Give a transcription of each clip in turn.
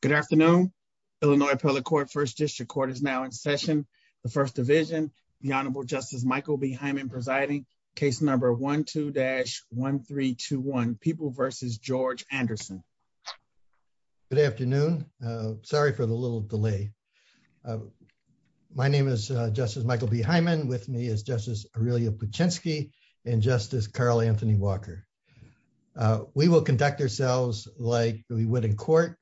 Good afternoon. Illinois public court first district court is now in session, the first division, the Honorable Justice Michael B Hyman presiding case number 12 dash 1321 people versus George Anderson. Good afternoon. Sorry for the little delay. My name is Justice Michael B Hyman with me is Justice, really a pachinko and Justice Carl Anthony Walker. We will conduct ourselves like we would in court.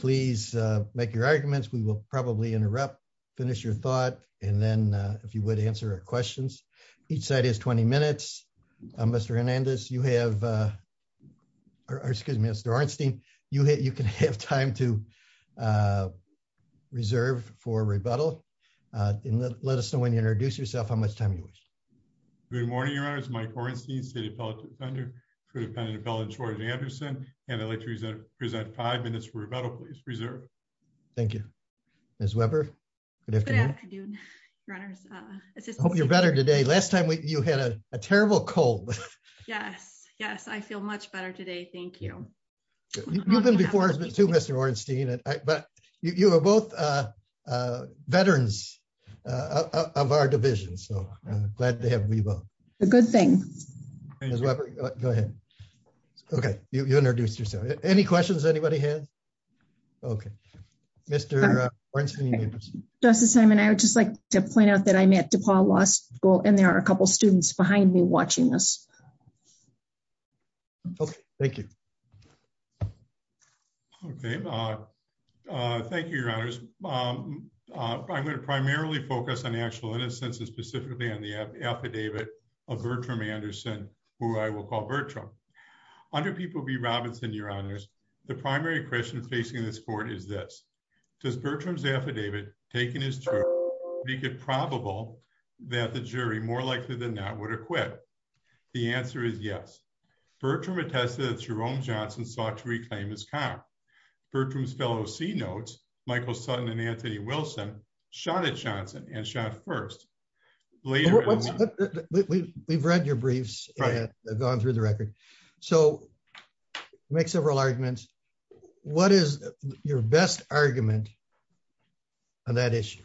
Please make your arguments we will probably interrupt. Finish your thought, and then if you would answer our questions. Each side is 20 minutes. I'm Mr Hernandez you have our excuse me Mr Arnstein, you hit you can have time to reserve for rebuttal. Let us know when you introduce yourself how much time you wish. Good morning, your eyes Mike Ornstein city public defender for the pen and appellate George Anderson, and I like to present present five minutes for rebuttal please preserve. Thank you, as Weber. Good afternoon, runners. You're better today last time you had a terrible cold. Yes, yes I feel much better today. Thank you. You've been before to Mr Ornstein, but you are both veterans of our division so glad to have a good thing. Go ahead. Okay, you introduced yourself. Any questions anybody has. Okay. Mr. Does the same and I would just like to point out that I met to Paul last goal and there are a couple students behind me watching this. Thank you. Thank you, Your Honors. I'm going to primarily focus on actual innocence and specifically on the affidavit of Bertram Anderson, who I will call Bertram. Under people be Robinson, Your Honors. The primary question facing this court is this. Does Bertram's affidavit, taking his to make it probable that the jury more likely than not would acquit. The answer is yes. Bertram attested Jerome Johnson sought to reclaim his car. Bertram's fellow see notes, Michael Sutton and Anthony Wilson shot at Johnson and shot first. We've read your briefs, gone through the record. So, make several arguments. What is your best argument on that issue.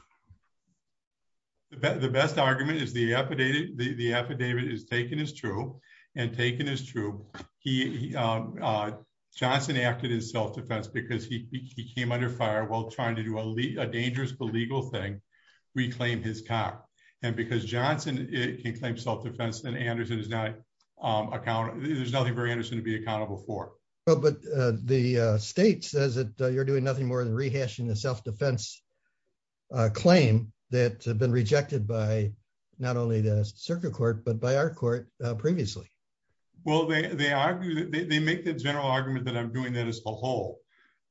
The best argument is the affidavit, the affidavit is taken is true and taken is true. He Johnson acted in self defense because he came under fire while trying to do a dangerous illegal thing reclaim his car, and because Johnson, it can claim self defense account. There's nothing very interesting to be accountable for, but the state says that you're doing nothing more than rehashing the self defense claim that been rejected by not only the circuit court but by our court. Previously, well they they argue that they make the general argument that I'm doing that as a whole.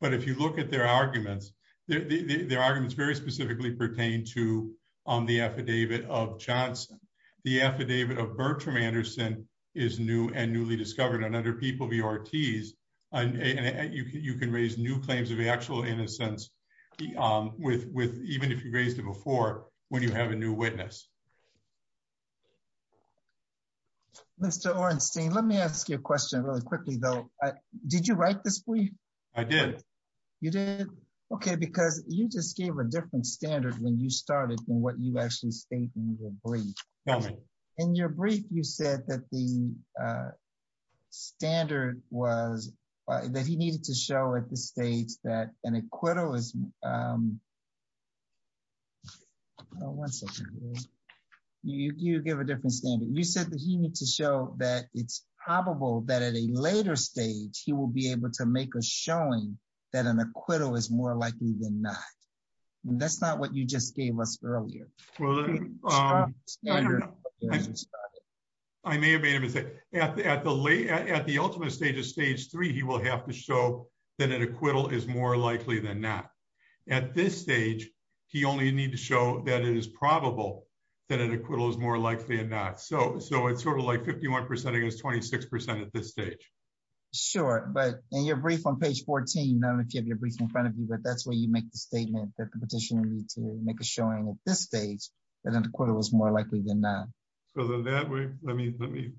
But if you look at their arguments. Their arguments very specifically pertain to the affidavit of Johnson, the affidavit of Bertram Anderson is new and newly discovered and other people VRTs, and you can raise new claims of actual innocence with with even if you've raised it before, when you have a new witness. Mr. Ornstein, let me ask you a question really quickly though. Did you write this week. I did. You did. Okay, because you just gave a different standard when you started from what you actually state in your brief. In your brief you said that the standard was that he needed to show at the states that an acquittal is once you give a different standard you said that he needs to show that it's probable that at a later stage, he will be able to make a showing that an acquittal is more likely than not. That's not what you just gave us earlier. I may have made a mistake at the at the late at the ultimate stage of stage three, he will have to show that an acquittal is more likely than not. At this stage, he only need to show that it is probable that an acquittal is more likely than not so so it's sort of like 51% against 26% at this stage. Sure, but in your brief on page 14 now if you have your brief in front of you but that's where you make the statement that the petitioner need to make a showing at this stage, and then the quarter was more likely than not. Let me, let me.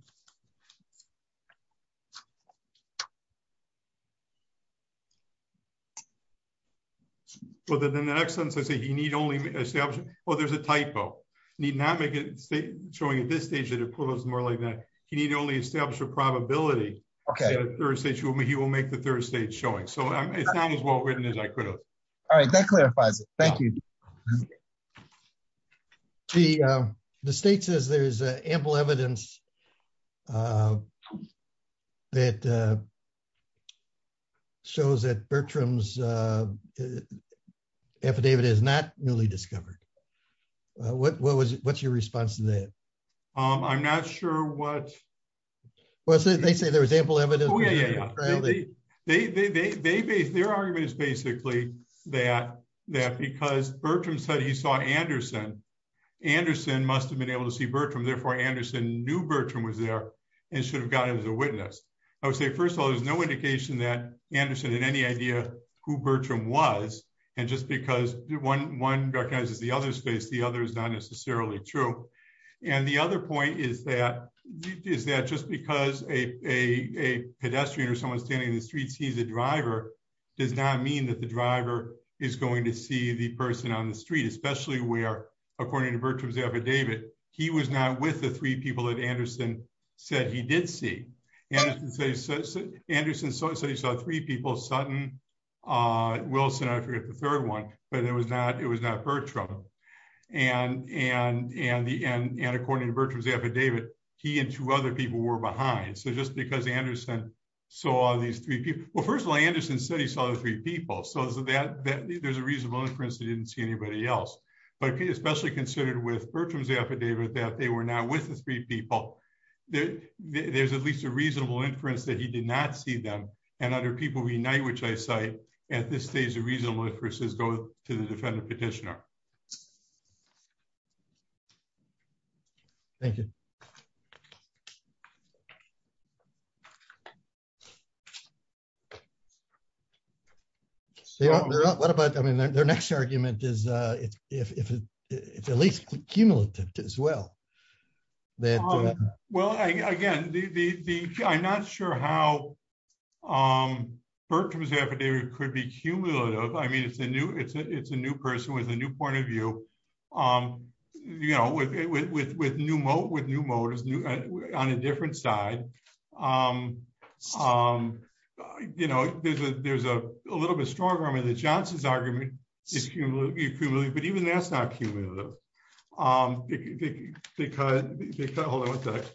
Well, then the next sentence I say he need only establish, oh there's a typo need not make it state showing at this stage that it was more like that. He need only establish a probability. Okay, there's a show me he will make the third stage showing so it's not as well written as I could have. All right, that clarifies it. Thank you. The, the state says there's ample evidence that shows that Bertram's affidavit is not newly discovered. What was, what's your response to that. I'm not sure what was it they say there was ample evidence. They, they, they, they, they, their argument is basically that that because Bertram said he saw Anderson. Anderson must have been able to see Bertram therefore Anderson knew Bertram was there and should have gotten as a witness. I would say first of all, there's no indication that Anderson had any idea who Bertram was. And just because one one recognizes the other space the other is not necessarily true. And the other point is that is that just because a pedestrian or someone standing in the streets he's a driver does not mean that the driver is going to see the person on the street, especially where, according to Bertram's affidavit, he was not with the three people that Anderson said he did see. Anderson said he saw three people Sutton, Wilson, I forget the third one, but it was not it was not Bertram. And, and, and the end and according to Bertram's affidavit, he and two other people were behind so just because Anderson. So all these three people. Well, first of all, Anderson said he saw the three people so that there's a reasonable inference he didn't see anybody else, but especially considered with Bertram's affidavit that they were not with the three people that there's at least a reasonable inference that he did not see them, and other people we know which I say, at this stage a reasonable inferences go to the defendant petitioner. Thank you. What about I mean their next argument is, if it's at least cumulative as well. Well, again, the I'm not sure how Bertram's affidavit could be cumulative I mean it's a new it's a it's a new person with a new point of view. You know with with with new moat with new motors new on a different side. You know, there's a there's a little bit stronger I mean the Johnson's argument is cumulative, but even that's not cumulative. Because, because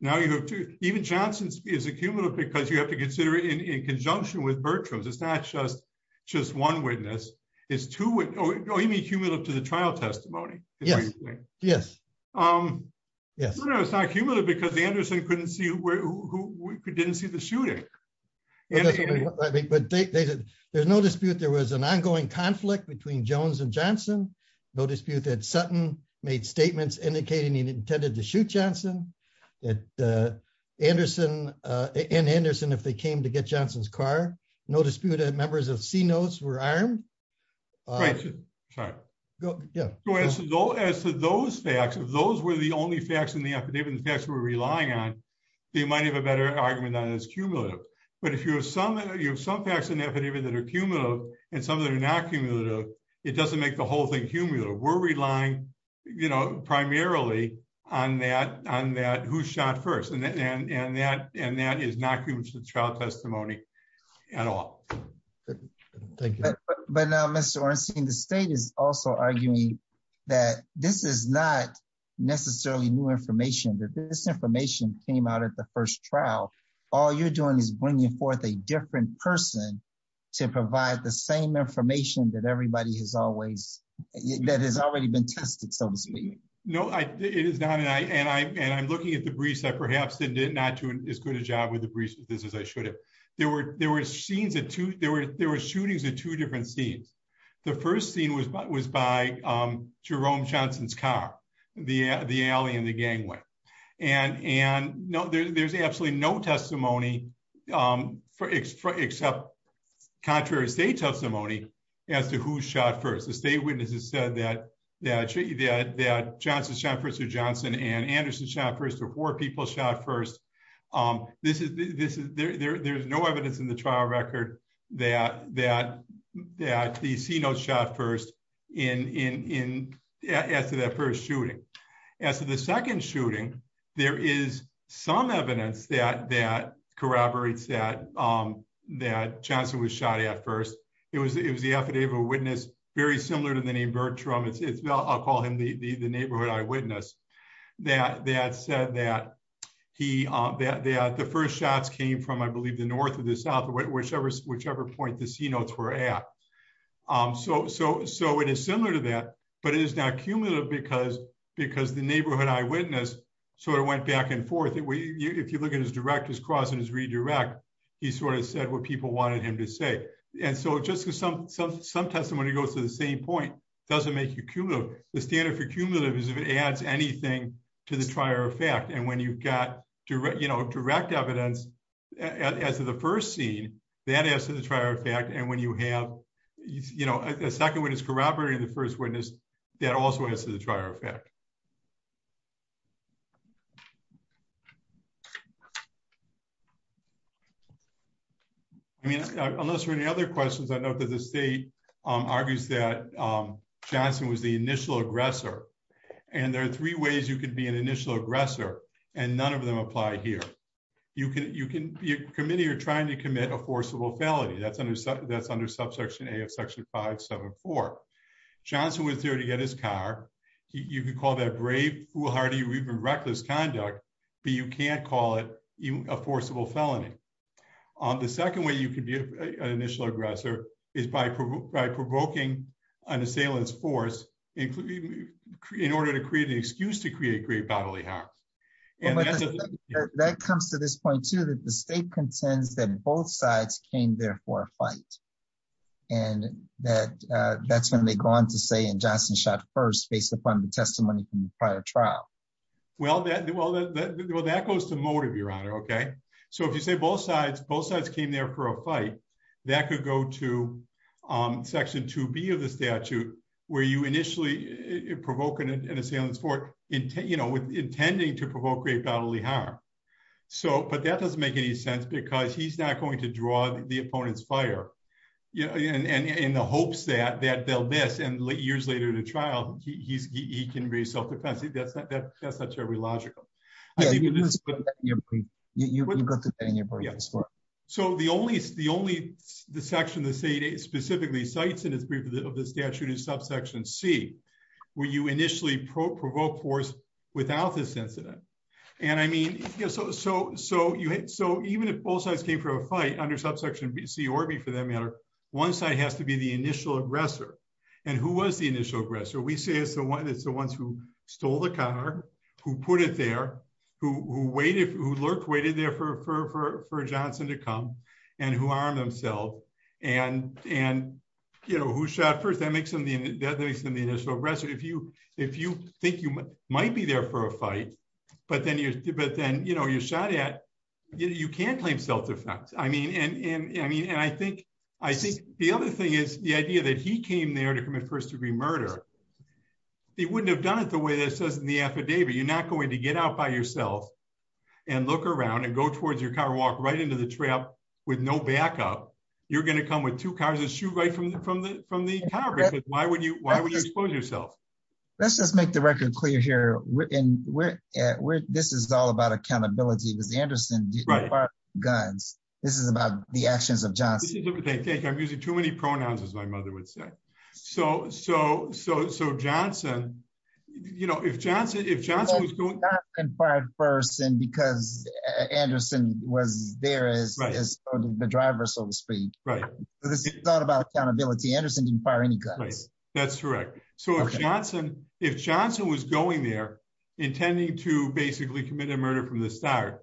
now you have to even Johnson's is a cumulative because you have to consider it in conjunction with Bertram's it's not just just one witness is to what you mean cumulative to the trial testimony. Yes, yes. Yes, no it's not cumulative because the Anderson couldn't see who didn't see the shooting. But there's no dispute there was an ongoing conflict between Jones and Johnson, no dispute that Sutton made statements indicating he intended to shoot Johnson, and Anderson, and Anderson if they came to get Johnson's car, no disputed members of But if you have some, you have some facts and evidence that are cumulative, and some that are not cumulative, it doesn't make the whole thing cumulative we're relying, you know, primarily on that on that who shot first and that and that and that is not the same information came out at the first trial. All you're doing is bringing forth a different person to provide the same information that everybody has always that has already been tested so to speak. No, I, it is not and I and I and I'm looking at the briefs that perhaps that did not do as good a job with the briefs with this as I should have. There were there were scenes that to there were there were shootings are two different scenes. The first scene was by was by Jerome Johnson's car, the, the alley and the gangway and and know there's absolutely no testimony for extra except contrary state testimony as to who shot first the state witnesses said that, that, that, that Johnson Jefferson Johnson and Anderson shot first or four people shot first. This is this is there there's no evidence in the trial record that that that the CNO shot first in in in after that first shooting. As to the second shooting. There is some evidence that that corroborates that that Johnson was shot at first, it was it was the affidavit witness, very similar to the name Bertram it's it's not I'll call him the the neighborhood eyewitness that that said that he, that the first shots came from I believe the north of the south, whichever, whichever point the sea notes were at. So, so, so it is similar to that, but it is not cumulative because, because the neighborhood eyewitness sort of went back and forth and we if you look at his direct his cross and his redirect. He sort of said what people wanted him to say. And so just to some, some, some testimony goes to the same point, doesn't make you cumulative, the standard for cumulative is if it adds anything to the trier effect and when you've got direct you know direct evidence as to the first scene that as to the trier effect and when you have, you know, a second one is corroborating the first witness that also has to the trier effect. I mean, unless there are any other questions I know that the state argues that Johnson was the initial aggressor. And there are three ways you can be an initial aggressor, and none of them apply here. You can you can commit you're trying to commit a forcible felony that's under that's under subsection a of section 574 Johnson was there to get his car. You can call that brave foolhardy we've been reckless conduct, but you can't call it a forcible felony on the second way you can be an initial aggressor is by provoking an assailant's force, including in order to create an excuse to create great bodily That comes to this point to that the state contends that both sides came there for a fight, and that that's when they go on to say and Johnson shot first based upon the testimony from the prior trial. Well that well that goes to motive, Your Honor. Okay, so if you say both sides both sides came there for a fight that could go to section to be of the statute, where you initially provoking an assailant sport in 10 you know with intending to provoke So, but that doesn't make any sense because he's not going to draw the opponent's fire, you know, and in the hopes that that they'll miss and late years later to trial, he's he can be self defensive that's that's that's every logical. You. So the only the only the section that's a specifically sites in his brief of the statute is subsection see where you initially pro provoke force without this incident. And I mean, so, so, so you had so even if both sides came for a fight under subsection BC or B for that matter, one side has to be the initial aggressor. And who was the initial aggressor we see is the one that's the ones who stole the car, who put it there, who waited who lurked waited there for for for Johnson to come and who are themselves, and, and, you know, who shot first that makes them the initial aggressive if you if you think you might be there for a fight, but then you but then you know you shot at you can claim self defense, I mean and I mean and I think I think the other thing is the idea that he came there to commit first degree murder. He wouldn't have done it the way that says in the affidavit you're not going to get out by yourself and look around and go towards your car walk right into the trap, with no backup, you're going to come with two cars and shoot right from the from the from the So, so Johnson, you know, if Johnson if Johnson was going first and because Anderson was there is the driver so to speak, right, this is not about accountability Anderson didn't fire any guys. That's correct. So Johnson, if Johnson was going there, intending to basically commit a murder from the start,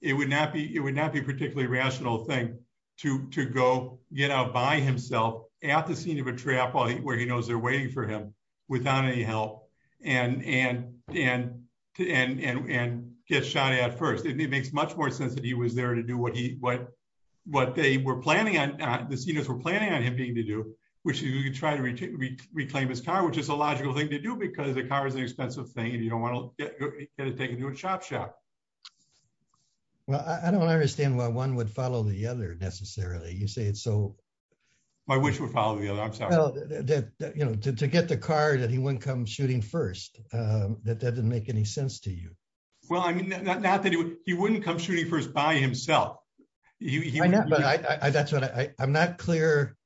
it would not be it would not be particularly rational thing to go get out by himself at the scene of a trap where he knows they're waiting for him without any help and and and and and get shot at first it makes much more sense that he was there to do what he what what they were planning on this unit for planning on him being to do, which is you could try to reclaim his car which is a logical thing to do because the car is an expensive thing and you don't want to take a new shop shop. Well, I don't understand why one would follow the other necessarily you say it so. My wish would follow the other. You know, to get the car that he wouldn't come shooting first that that didn't make any sense to you. Well, I mean, not that he wouldn't come shooting first by himself. You know, but I that's what I'm not clear.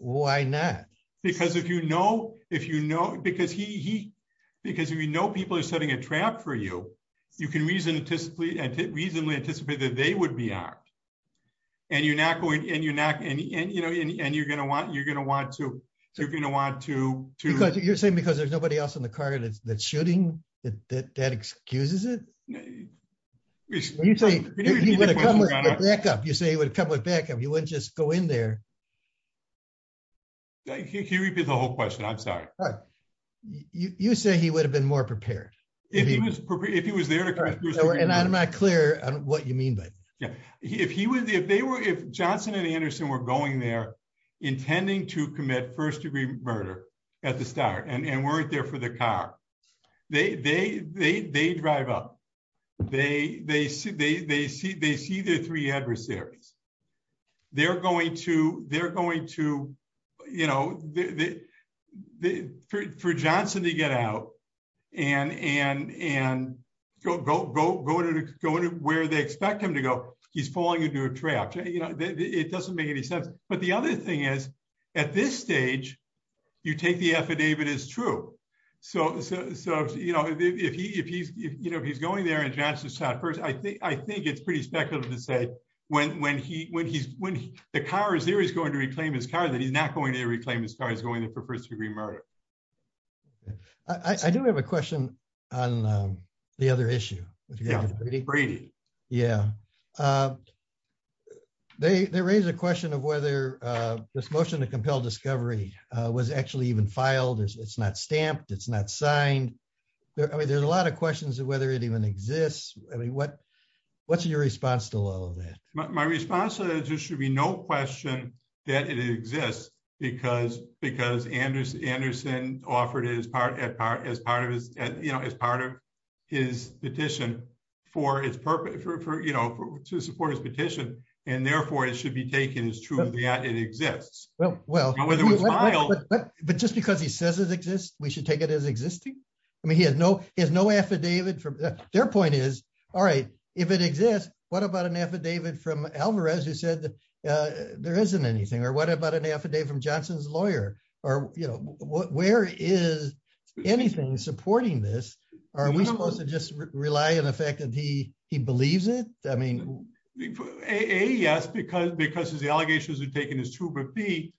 Why not, because if you know if you know because he because we know people are setting a trap for you. You can reason to sleep and reasonably anticipate that they would be out. And you're not going and you're not any and you know and you're going to want you're going to want to, you're going to want to, to, you're saying because there's nobody else in the car and it's that shooting that that excuses it. You say, you say it would come with backup you wouldn't just go in there. You repeat the whole question I'm sorry. You say he would have been more prepared. If he was if he was there. And I'm not clear on what you mean by. Yeah, if he was if they were if Johnson and Anderson were going there, intending to commit first degree murder at the start and weren't there for the car. They, they, they drive up. They, they see they see they see the three adversaries. They're going to, they're going to, you know, the, the, for Johnson to get out and and and go go go go to go to where they expect him to go, he's falling into a trap. It doesn't make any sense. But the other thing is, at this stage, you take the affidavit is true. So, so, you know, if he if he's, you know, he's going there and Johnson shot first I think I think it's pretty speculative to say when when he when he's when the car is there is going to reclaim his car that he's not going to reclaim his car is going in for first degree murder. I do have a question on the other issue. Brady. Yeah. They raise a question of whether this motion to compel discovery was actually even filed is it's not stamped it's not signed. I mean there's a lot of questions of whether it even exists. I mean what, what's your response to all of that, my response to that there should be no question that it exists, because, because Anders Anderson offered is part as part as part of his, his petition for his purpose for you know to support his petition, and therefore it should be taken as true that it exists. Well, well, but just because he says it exists, we should take it as existing. I mean he has no he has no affidavit from their point is, all right, if it exists. What about an affidavit from Alvarez you said there isn't anything or what about an affidavit from Johnson's lawyer, or, you know, where is anything supporting this, are we supposed to just rely on the fact that he, he believes it. I mean, a yes because because his allegations are taken as true but be.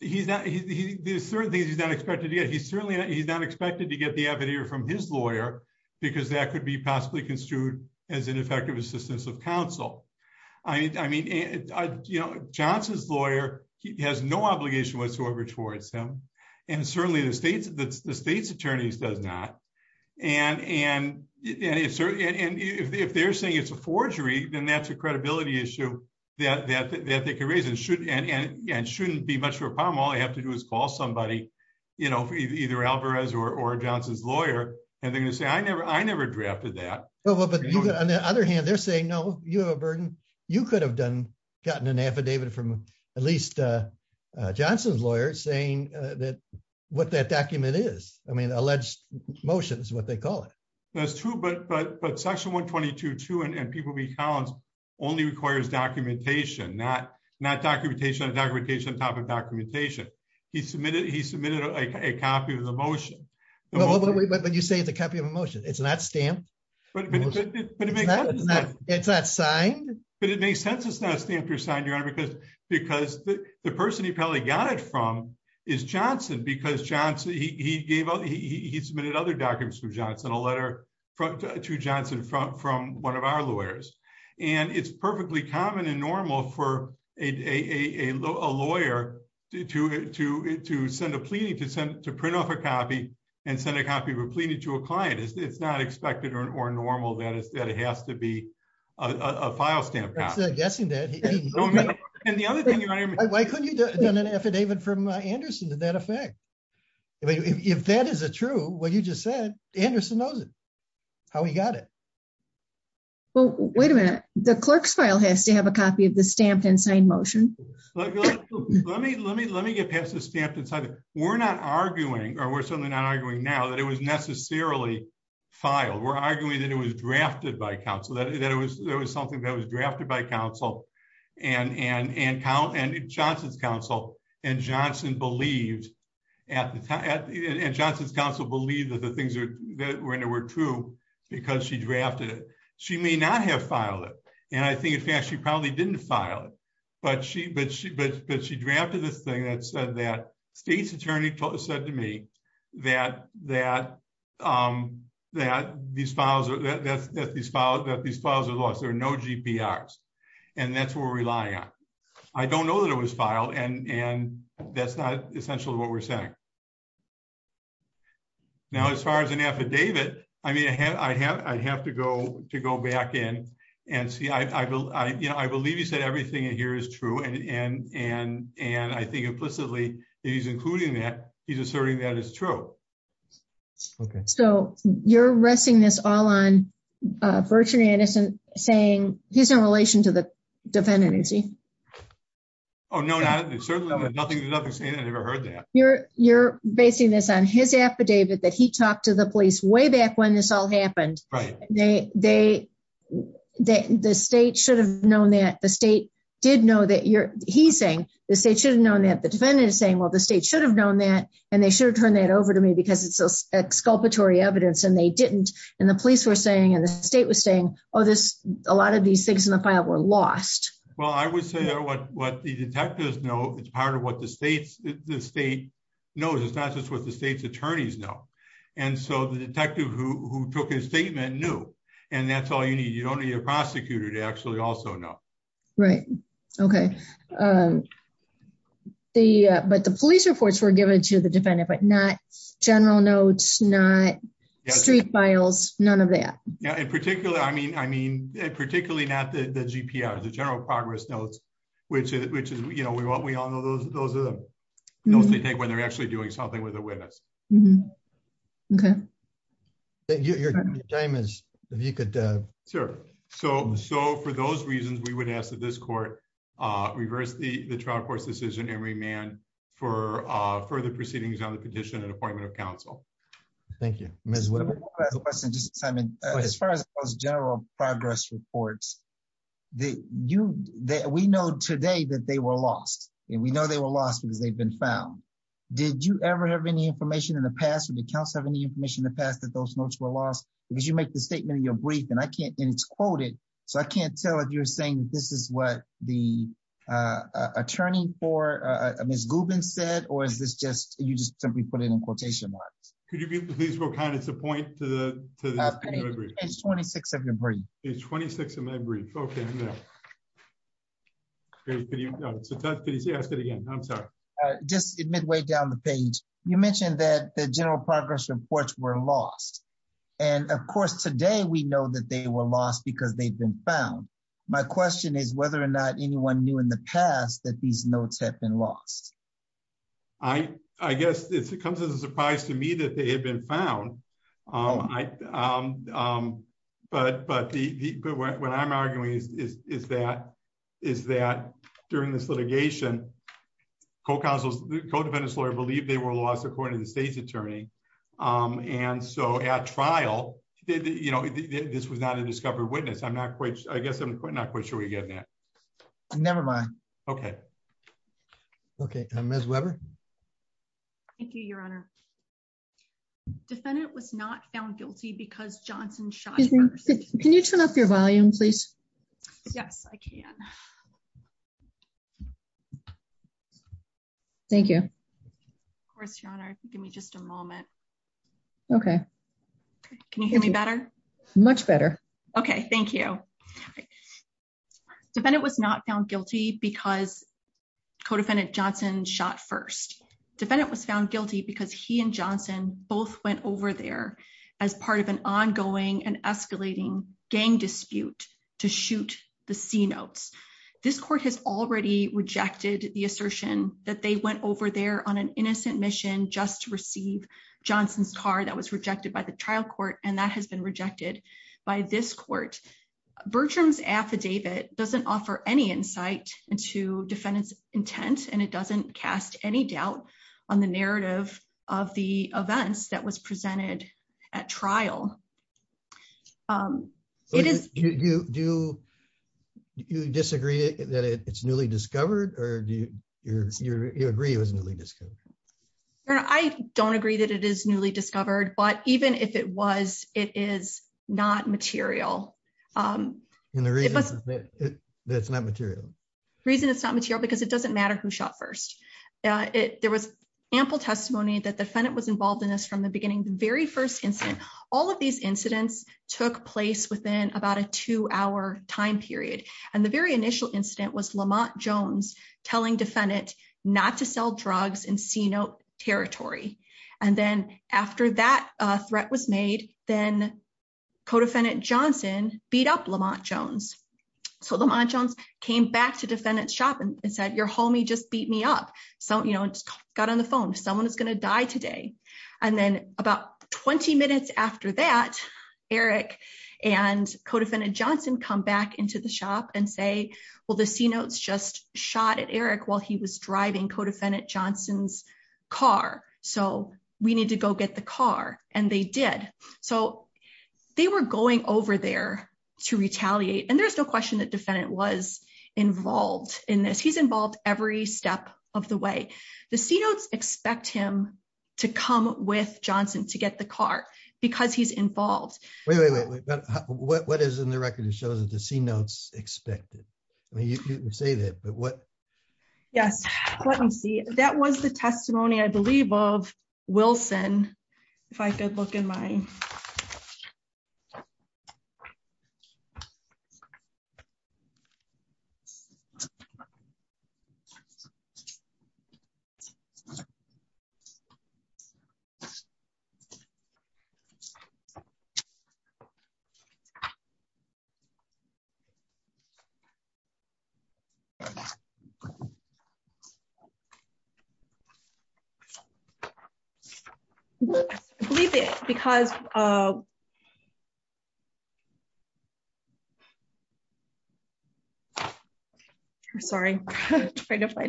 He's not he's certainly he's not expected to get he's certainly he's not expected to get the evidence from his lawyer, because that could be possibly construed as an effective assistance of counsel. I mean, I mean, you know, Johnson's lawyer, he has no obligation whatsoever towards him, and certainly the state's the state's attorneys does not. And, and it's certainly and if they're saying it's a forgery, then that's a credibility issue that they can raise and should and shouldn't be much of a problem all I have to do is call somebody, you know, either Alvarez or Johnson's lawyer, and they're on the other hand they're saying no, you have a burden. You could have done gotten an affidavit from at least Johnson's lawyer saying that what that document is, I mean alleged motions what they call it. That's true but but but section 122 to and people be counts only requires documentation not not documentation documentation topic documentation. He submitted he submitted a copy of the motion. When you say it's a copy of emotion, it's not stamped. It's not signed, but it makes sense it's not stamped or signed your honor because, because the person he probably got it from is Johnson because Johnson he gave up he submitted other documents from Johnson a letter to Johnson from from one of our lawyers, and it's perfectly common and normal for a lawyer to to to send a plea to send to print off a copy and send a copy of a plea to a client is it's not expected or normal that is that it has to be a file stamp guessing that. And the other thing. Why couldn't you done an affidavit from Anderson to that effect. If that is a true what you just said, Anderson knows how he got it. Well, wait a minute, the clerks file has to have a copy of the stamp and sign motion. Let me let me let me get past the stamp inside. We're not arguing, or we're certainly not arguing now that it was necessarily file we're arguing that it was drafted by Council that it was, there was something that was drafted by Council and and and Johnson's Council, and Johnson believed at the time and Johnson's Council believe that the things that were in a word true, because she drafted it. She may not have filed it. And I think in fact she probably didn't file it, but she but she but but she drafted this thing that said that state's attorney told said to me that that that these files that these files that these files are lost there are no And that's what we're relying on. I don't know that it was filed and and that's not essentially what we're saying. Now as far as an affidavit, I mean I have I'd have to go to go back in and see I believe you said everything here is true and and and and I think implicitly, he's including that he's asserting that is true. Okay, so you're resting this all on. Virtually innocent, saying he's in relation to the defendant. Oh no, no, nothing. I never heard that you're you're basing this on his affidavit that he talked to the police way back when this all happened. Right, they, they, the state should have known that the state did know that you're, he's saying the state should have known that the defendant is saying well the state should have known that, and they should have turned that over to me because it's a exculpatory evidence and they didn't, and the police were saying and the state was saying, Oh, this, a lot of these things in the file were lost. Well I would say what what the detectives know it's part of what the states, the state knows it's not just what the state's supposed to know. And so the detective who took his statement new, and that's all you need you don't need a prosecutor to actually also know. Right. Okay. The, but the police reports were given to the defendant but not general notes not street files, none of that. Yeah, in particular, I mean, I mean, particularly not the GPA or the general progress notes, which is, which is, you know, we want we all know those, those are the steps they take when they're actually doing something with a witness. Okay. Thank you. If you could. Sure. So, so for those reasons we would ask that this court reverse the trial court's decision every man for further proceedings on the petition and appointment of counsel. Thank you, Miss. As far as general progress reports that you that we know today that they were lost, and we know they were lost because they've been found. Did you ever have any information in the past and the council have any information in the past that those notes were lost, because you make the statement of your brief and I can't and it's quoted, so I can't tell if you're saying this is what the attorney for a misguided said or is this just, you just simply put it in quotation marks, could you please will kind of point to the 26 of your brain is 26 of my brief. Okay. Can you ask it again. I'm sorry. Just admit way down the page, you mentioned that the general progress reports were lost. And of course today we know that they were lost because they've been found. My question is whether or not anyone knew in the past that these notes have been lost. I, I guess it comes as a surprise to me that they had been found. I. But, but the, but what I'm arguing is, is that, is that during this litigation. Co counsel's co defendant's lawyer believe they were lost according to the state's attorney. And so at trial, you know, this was not a discovered witness I'm not quite, I guess I'm not quite sure we get that. Nevermind. Okay. Okay, Miss Webber. Thank you, Your Honor. Defendant was not found guilty because Johnson shot. Can you turn up your volume please. Yes, I can. Thank you. Give me just a moment. Okay. Can you hear me better. Much better. Okay, thank you. Defendant was not found guilty because co defendant Johnson shot first defendant was found guilty because he and Johnson, both went over there as part of an ongoing and escalating gang dispute to shoot the sea notes. This court has already rejected the assertion that they went over there on an innocent mission just to receive Johnson's car that was rejected by the trial court and that has been rejected by this court Bertram's affidavit doesn't offer any insight into defendants intent and it doesn't cast any doubt on the narrative of the events that was presented at trial. It is you do you disagree that it's newly discovered, or do you agree with newly discovered. I don't agree that it is newly discovered but even if it was, it is not material. That's not material reason it's not material because it doesn't matter who shot first. It, there was ample testimony that the defendant was involved in this from the beginning, the very first instance, all of these incidents took place within about a two hour time period. And the very initial incident was Lamont Jones, telling defendant, not to sell drugs and see no territory. And then after that threat was made, then co defendant Johnson beat up Lamont Jones. So Lamont Jones came back to defendants shopping and said your homie just beat me up. So, you know, got on the phone someone is going to die today. And then about 20 minutes after that, Eric and co defendant Johnson come back into the shop and say, well the sea notes just shot at Eric while he was driving co defendant Johnson's car. So, we need to go get the car, and they did. So, they were going over there to retaliate and there's no question that defendant was involved in this he's involved, every step of the way. The sea notes, expect him to come with Johnson to get the car, because he's involved. What is in the record and shows it to see notes expected. You say that but what. Yes, let me see. That was the testimony I believe of Wilson. If I could look in my because sorry. Wilson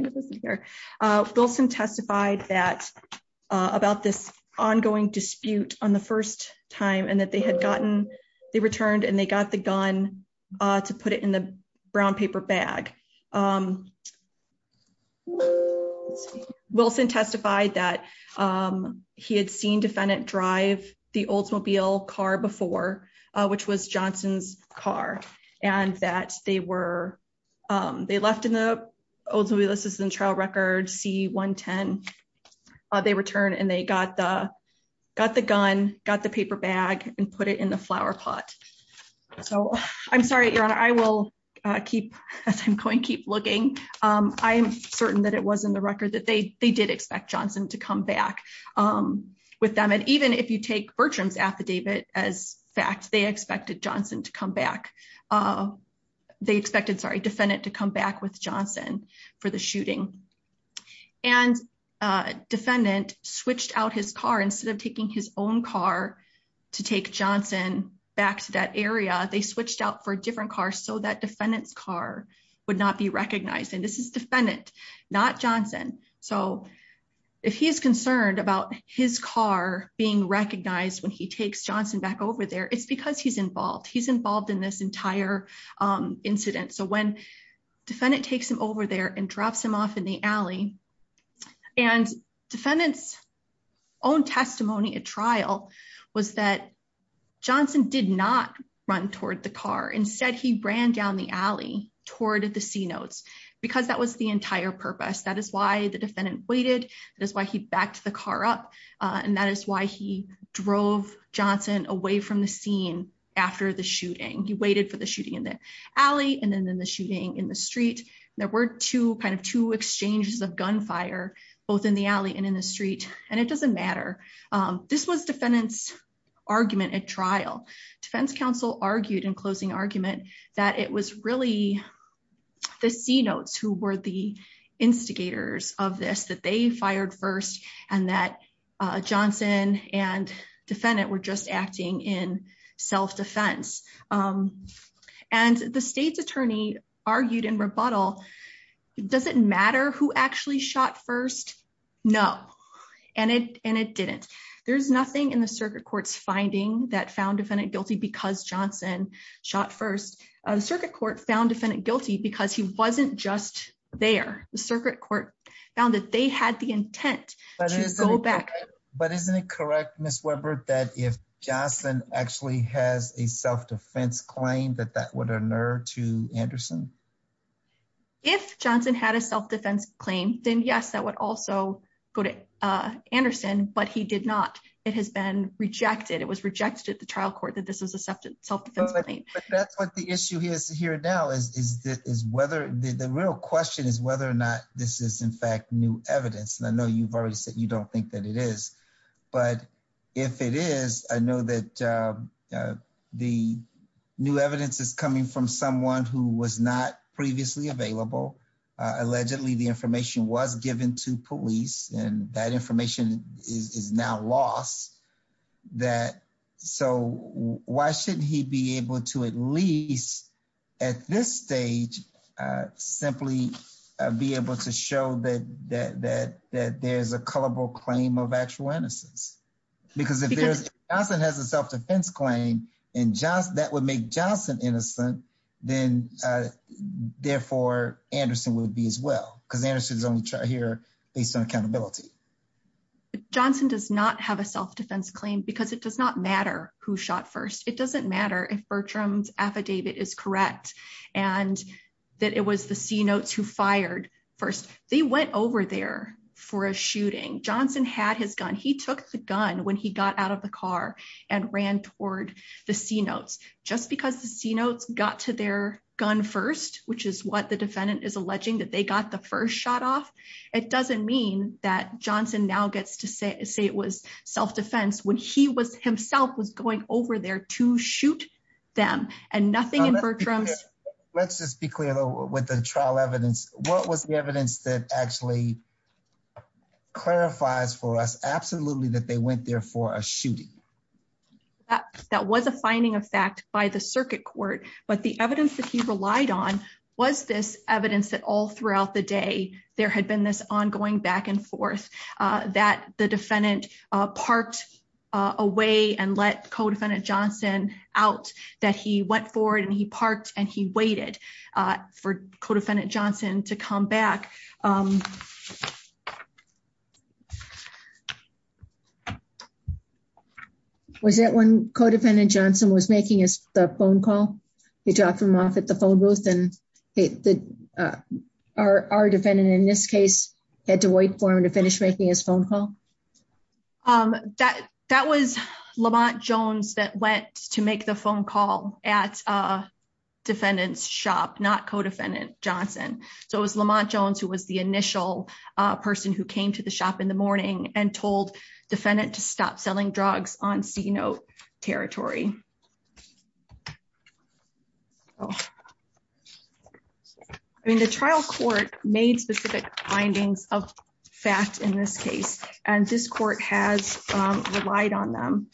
testified that about this ongoing dispute on the first time and that they had gotten the returned and they got the gun to put it in the brown paper bag. Wilson testified that he had seen defendant drive the Oldsmobile car before, which was Johnson's car, and that they were. They left in the Oldsmobile this isn't trial record see 110. They return and they got the got the gun, got the paper bag and put it in the flower pot. So, I'm sorry your honor I will keep going keep looking. I'm certain that it was in the record that they, they did expect Johnson to come back with them and even if you take Bertram's affidavit as fact they expected Johnson to come back. They expected sorry defendant to come back with Johnson for the shooting and defendant switched out his car instead of taking his own car to take Johnson back to that area they switched out for different cars so that defendants car would not be recognized and this is defendant, not Johnson. So, if he is concerned about his car being recognized when he takes Johnson back over there it's because he's involved he's involved in this entire incident so when defendant takes him over there and drops him off in the Because that was the entire purpose that is why the defendant waited. That is why he backed the car up. And that is why he drove Johnson away from the scene. After the shooting he waited for the shooting in the alley and then in the shooting in the street. There were two kind of two exchanges of gunfire, both in the alley and in the street, and it doesn't matter. This was defendants argument at trial defense counsel argued in closing argument that it was really the sea notes who were the instigators of this that they fired first, and that Johnson and defendant were just acting in self defense. And the state's attorney argued in rebuttal. Does it matter who actually shot first. No, and it, and it didn't. There's nothing in the circuit courts finding that found defendant guilty because Johnson shot first circuit court found defendant guilty because he wasn't just there. The circuit court found that they had the intent to go back, but isn't it correct Miss Webber that if Jocelyn actually has a self defense claim that that would unnerve to Anderson. If Johnson had a self defense claim, then yes that would also go to Anderson, but he did not. It has been rejected it was rejected the trial court that this is a self defense. That's what the issue is here now is that is whether the real question is whether or not this is in fact new evidence and I know you've already said you don't think that it is. But if it is, I know that the new evidence is coming from someone who was not previously available. Allegedly the information was given to police and that information is now lost that. So, why shouldn't he be able to at least at this stage, simply be able to show that that that that there's a culpable claim of actual innocence. Because if there's nothing has a self defense claim and just that would make Johnson innocent, then, therefore, Anderson would be as well because Anderson's only try here, based on accountability. Johnson does not have a self defense claim because it does not matter who shot first, it doesn't matter if Bertram's affidavit is correct, and that it was the sea notes who fired. First, they went over there for a shooting Johnson had his gun he took the gun when he got out of the car and ran toward the sea notes, just because the sea notes got to their gun first, which is what the defendant is alleging that they got the first shot off. It doesn't mean that Johnson now gets to say it was self defense when he was himself was going over there to shoot them, and nothing in Bertram's. Let's just be clear, though, with the trial evidence, what was the evidence that actually clarifies for us absolutely that they went there for a shooting. That was a finding of fact by the circuit court, but the evidence that he relied on was this evidence that all throughout the day, there had been this ongoing back and forth that the defendant parked away and let co defendant Johnson out that he went forward and he parked and he waited for co defendant Johnson to come back. Was that when co defendant Johnson was making his phone call. He dropped him off at the phone booth and our defendant in this case, had to wait for him to finish making his phone call that that was Lamont Jones that went to make the phone call at a defendant's shop not co defendant Johnson. So it was Lamont Jones who was the initial person who came to the shop in the morning and told defendant to stop selling drugs on C note territory. I mean the trial court made specific findings of fact in this case, and this court has relied on them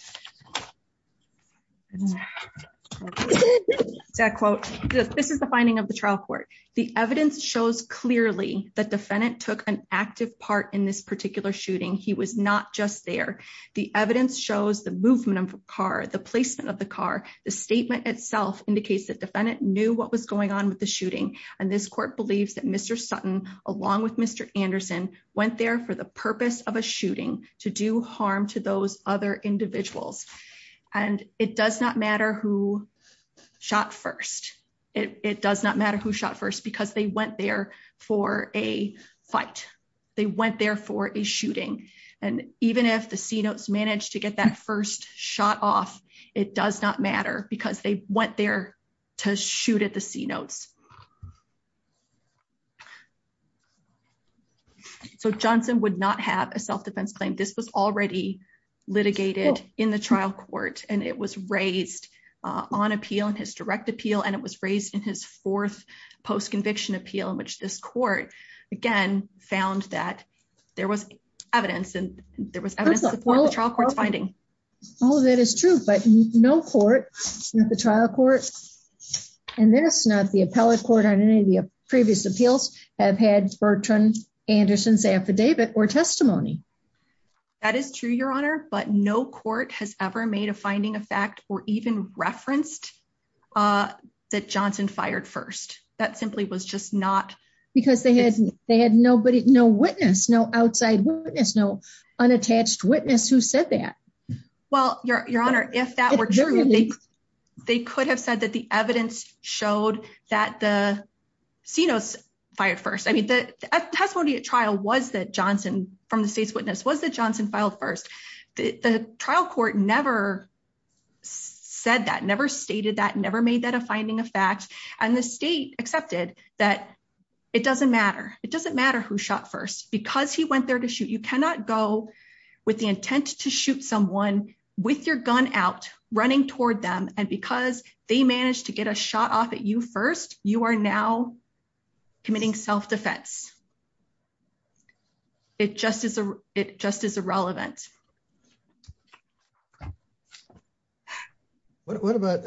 quote, this is the finding of the trial court, the evidence shows clearly that defendant took an active part in this particular shooting he was not just there. The evidence shows the movement of car the placement of the car, the statement itself indicates that defendant knew what was going on with the shooting, and this court believes that Mr Sutton, along with Mr. Anderson went there for the purpose of a shooting to do harm to those other individuals, and it does not matter who shot first, it does not matter who shot first because they went there for a fight. They went there for a shooting. And even if the C notes managed to get that first shot off. It does not matter because they went there to shoot at the C notes. So Johnson would not have a self defense claim this was already litigated in the trial court, and it was raised on appeal and his direct appeal and it was raised in his fourth post conviction appeal in which this court, again, found that there was evidence finding. All of that is true but no court, the trial court, and there's not the appellate court on any of the previous appeals have had Bertrand Anderson's affidavit or testimony. That is true, Your Honor, but no court has ever made a finding of fact, or even referenced that Johnson fired first, that simply was just not because they had, they had nobody no witness no outside witness no unattached witness who said that. Well, Your Honor, if that were true, they could have said that the evidence showed that the C notes fired first I mean that testimony at trial was that Johnson from the state's witness was that Johnson filed first, the trial court never said that never intent to shoot someone with your gun out running toward them, and because they managed to get a shot off at you first, you are now committing self defense. It just is a, it just is irrelevant. What about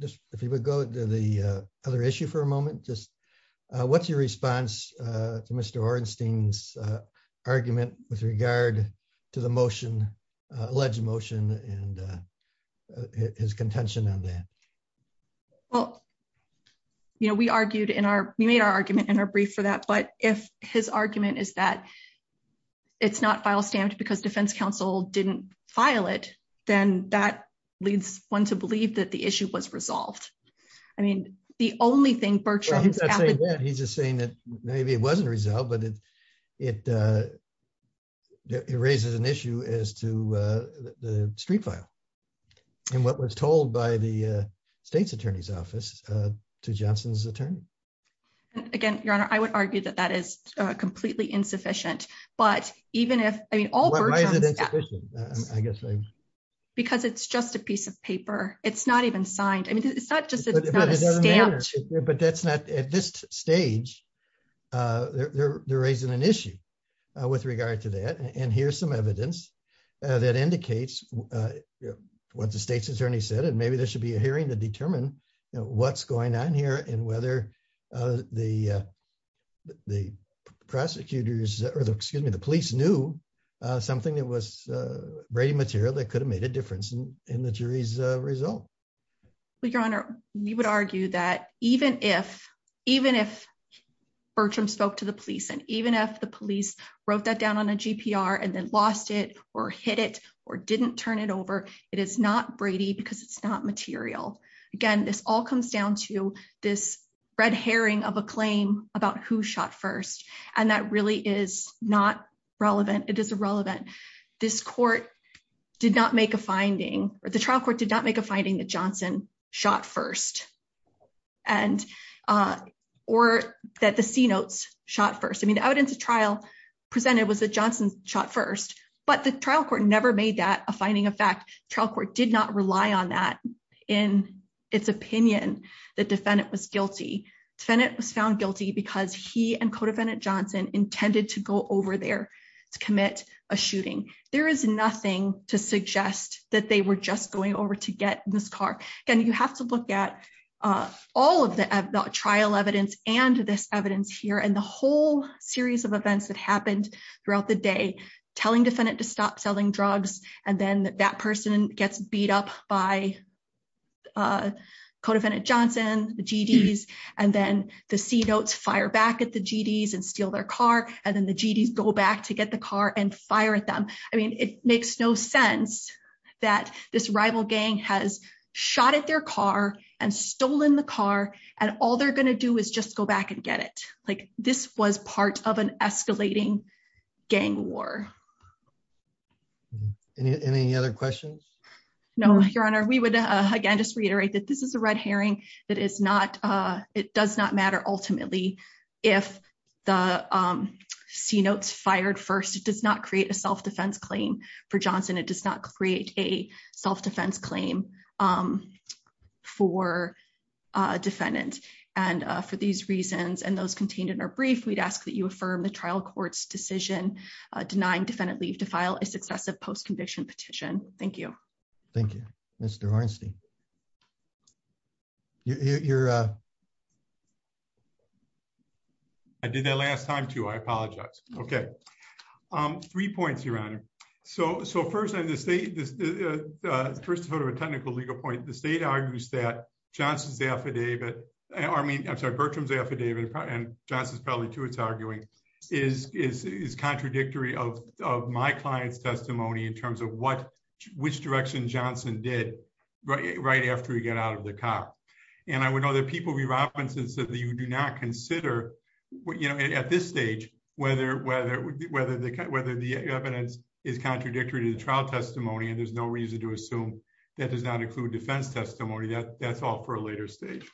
this, if you would go to the other issue for a moment just what's your response to Mr. Ornstein's argument with regard to the motion alleged motion and his contention on that. Well, you know, we argued in our, we made our argument in our brief for that but if his argument is that it's not file stamped because defense counsel said that. If defense counsel didn't file it, then that leads one to believe that the issue was resolved. I mean, the only thing Bertrand he's just saying that maybe it wasn't resolved but it, it raises an issue as to the street file. And what was told by the state's attorney's office to Johnson's attorney. Again, Your Honor, I would argue that that is completely insufficient, but even if I mean all. Because it's just a piece of paper, it's not even signed I mean it's not just. But that's not at this stage. They're raising an issue with regard to that and here's some evidence that indicates what the state's attorney said and maybe there should be a hearing to determine what's going on here and whether the, the prosecutors, or the excuse me the police knew something that was Brady material that could have made a difference in the jury's result. Your Honor, we would argue that even if, even if Bertram spoke to the police and even if the police wrote that down on a GPR and then lost it, or hit it, or didn't turn it over. It is not Brady because it's not material. Again, this all comes down to this red herring of a claim about who shot first, and that really is not relevant, it is irrelevant. This court did not make a finding, or the trial court did not make a finding that Johnson shot first. And, or that the sea notes shot first I mean the evidence of trial presented was a Johnson shot first, but the trial court never made that a finding of fact trial court did not rely on that. In its opinion that defendant was guilty tenant was found guilty because he and co defendant Johnson intended to go over there to commit a shooting, there is nothing to suggest that they were just going over to get this car. Again, you have to look at all of the trial evidence, and this evidence here and the whole series of events that happened throughout the day, telling defendant to stop selling drugs, and then that person gets beat up by co defendant Johnson, the GDs, and then the rival gang has shot at their car and stolen the car, and all they're going to do is just go back and get it like this was part of an escalating gang war. Any other questions. No, Your Honor, we would again just reiterate that this is a red herring, that is not. It does not matter. Ultimately, if the sea notes fired first it does not create a self defense claim for Johnson it does not create a self defense claim for defendant. And for these reasons and those contained in our brief we'd ask that you affirm the trial courts decision, denying defendant leave to file a successive post conviction petition. Thank you. Thank you, Mr Einstein. You're. I did that last time to I apologize. Okay. Three points Your Honor. So, so first I have to say this first sort of a technical legal point the state argues that Johnson's affidavit army I'm sorry Bertram's affidavit and justice probably to its arguing is is contradictory of my client's testimony in terms of what which direction Johnson did right right after he got out of the car. And I would know that people be Robinson said that you do not consider what you know at this stage, whether, whether, whether, whether the evidence is contradictory to the trial testimony and there's no reason to assume that does not include defense testimony that that's all for a later stage.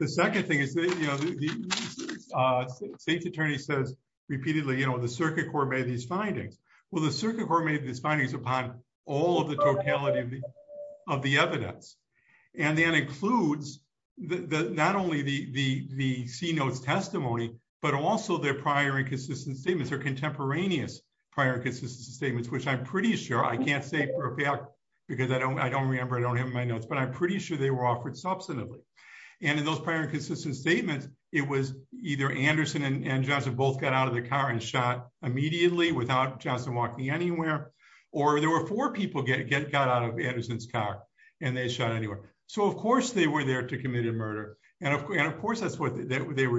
The second thing is that, you know, the state attorney says repeatedly you know the circuit court made these findings. Well the circuit court made this findings upon all of the totality of the, of the evidence, and then includes the not only the, the, the C notes testimony, but also their prior inconsistent statements are contemporaneous prior consistent statements which I'm pretty sure I can't say for a fact, because I don't I don't remember I don't have my notes but I'm pretty sure they were offered they were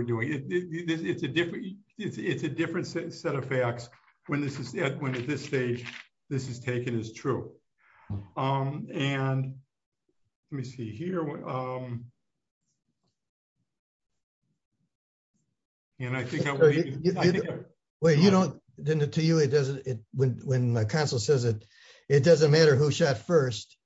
doing it. It's a different, it's a different set of facts. When this is when at this stage. This is taken is true. And let me see here. And I think, well you know, didn't it to you it doesn't it when when my counsel says it, it doesn't matter who shot first.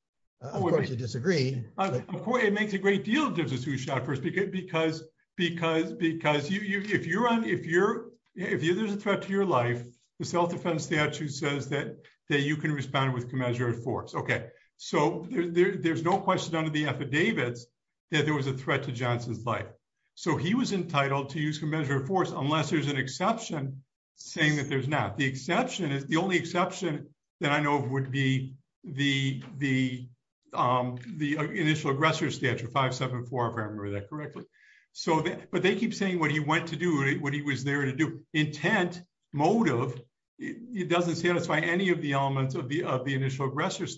I would disagree. It makes a great deal of difference who shot first because because because because you if you're on if you're, if you there's a threat to your life, the self defense statute says that that you can respond with commensurate force okay so there's no question under the there's an exception, saying that there's not the exception is the only exception that I know of would be the, the, the initial aggressor statute 574 if I remember that correctly. So, but they keep saying what he went to do it when he was there to do intent motive. It doesn't satisfy any of the elements of the of the initial aggressive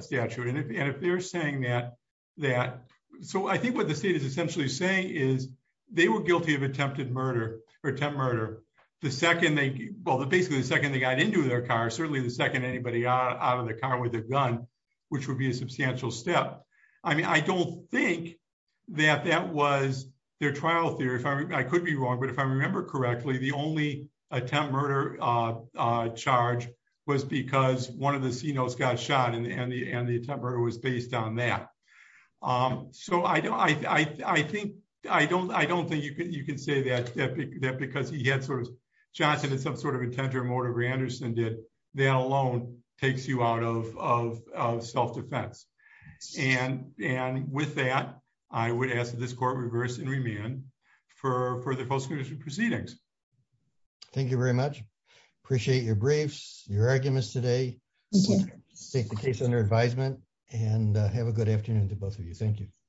statute and if they're saying that, that. So I think what the state is essentially saying is they were guilty of attempted murder or 10 murder. The second they both basically the second they got into their car certainly the second anybody out of the car with a gun, which would be a substantial step. I mean, I don't think that that was their trial theory if I could be wrong but if I remember correctly, the only attempt murder charge was because one of the signals got shot in the end the end the temper was based on that. So I don't I think I don't I don't think you can you can say that, that because he had sort of Johnson and some sort of intent or motor Granderson did that alone takes you out of self defense. And, and with that, I would ask this court reverse and remand for for the postmortem proceedings. Thank you very much. Appreciate your briefs your arguments today. Take the case under advisement and have a good afternoon to both of you. Thank you.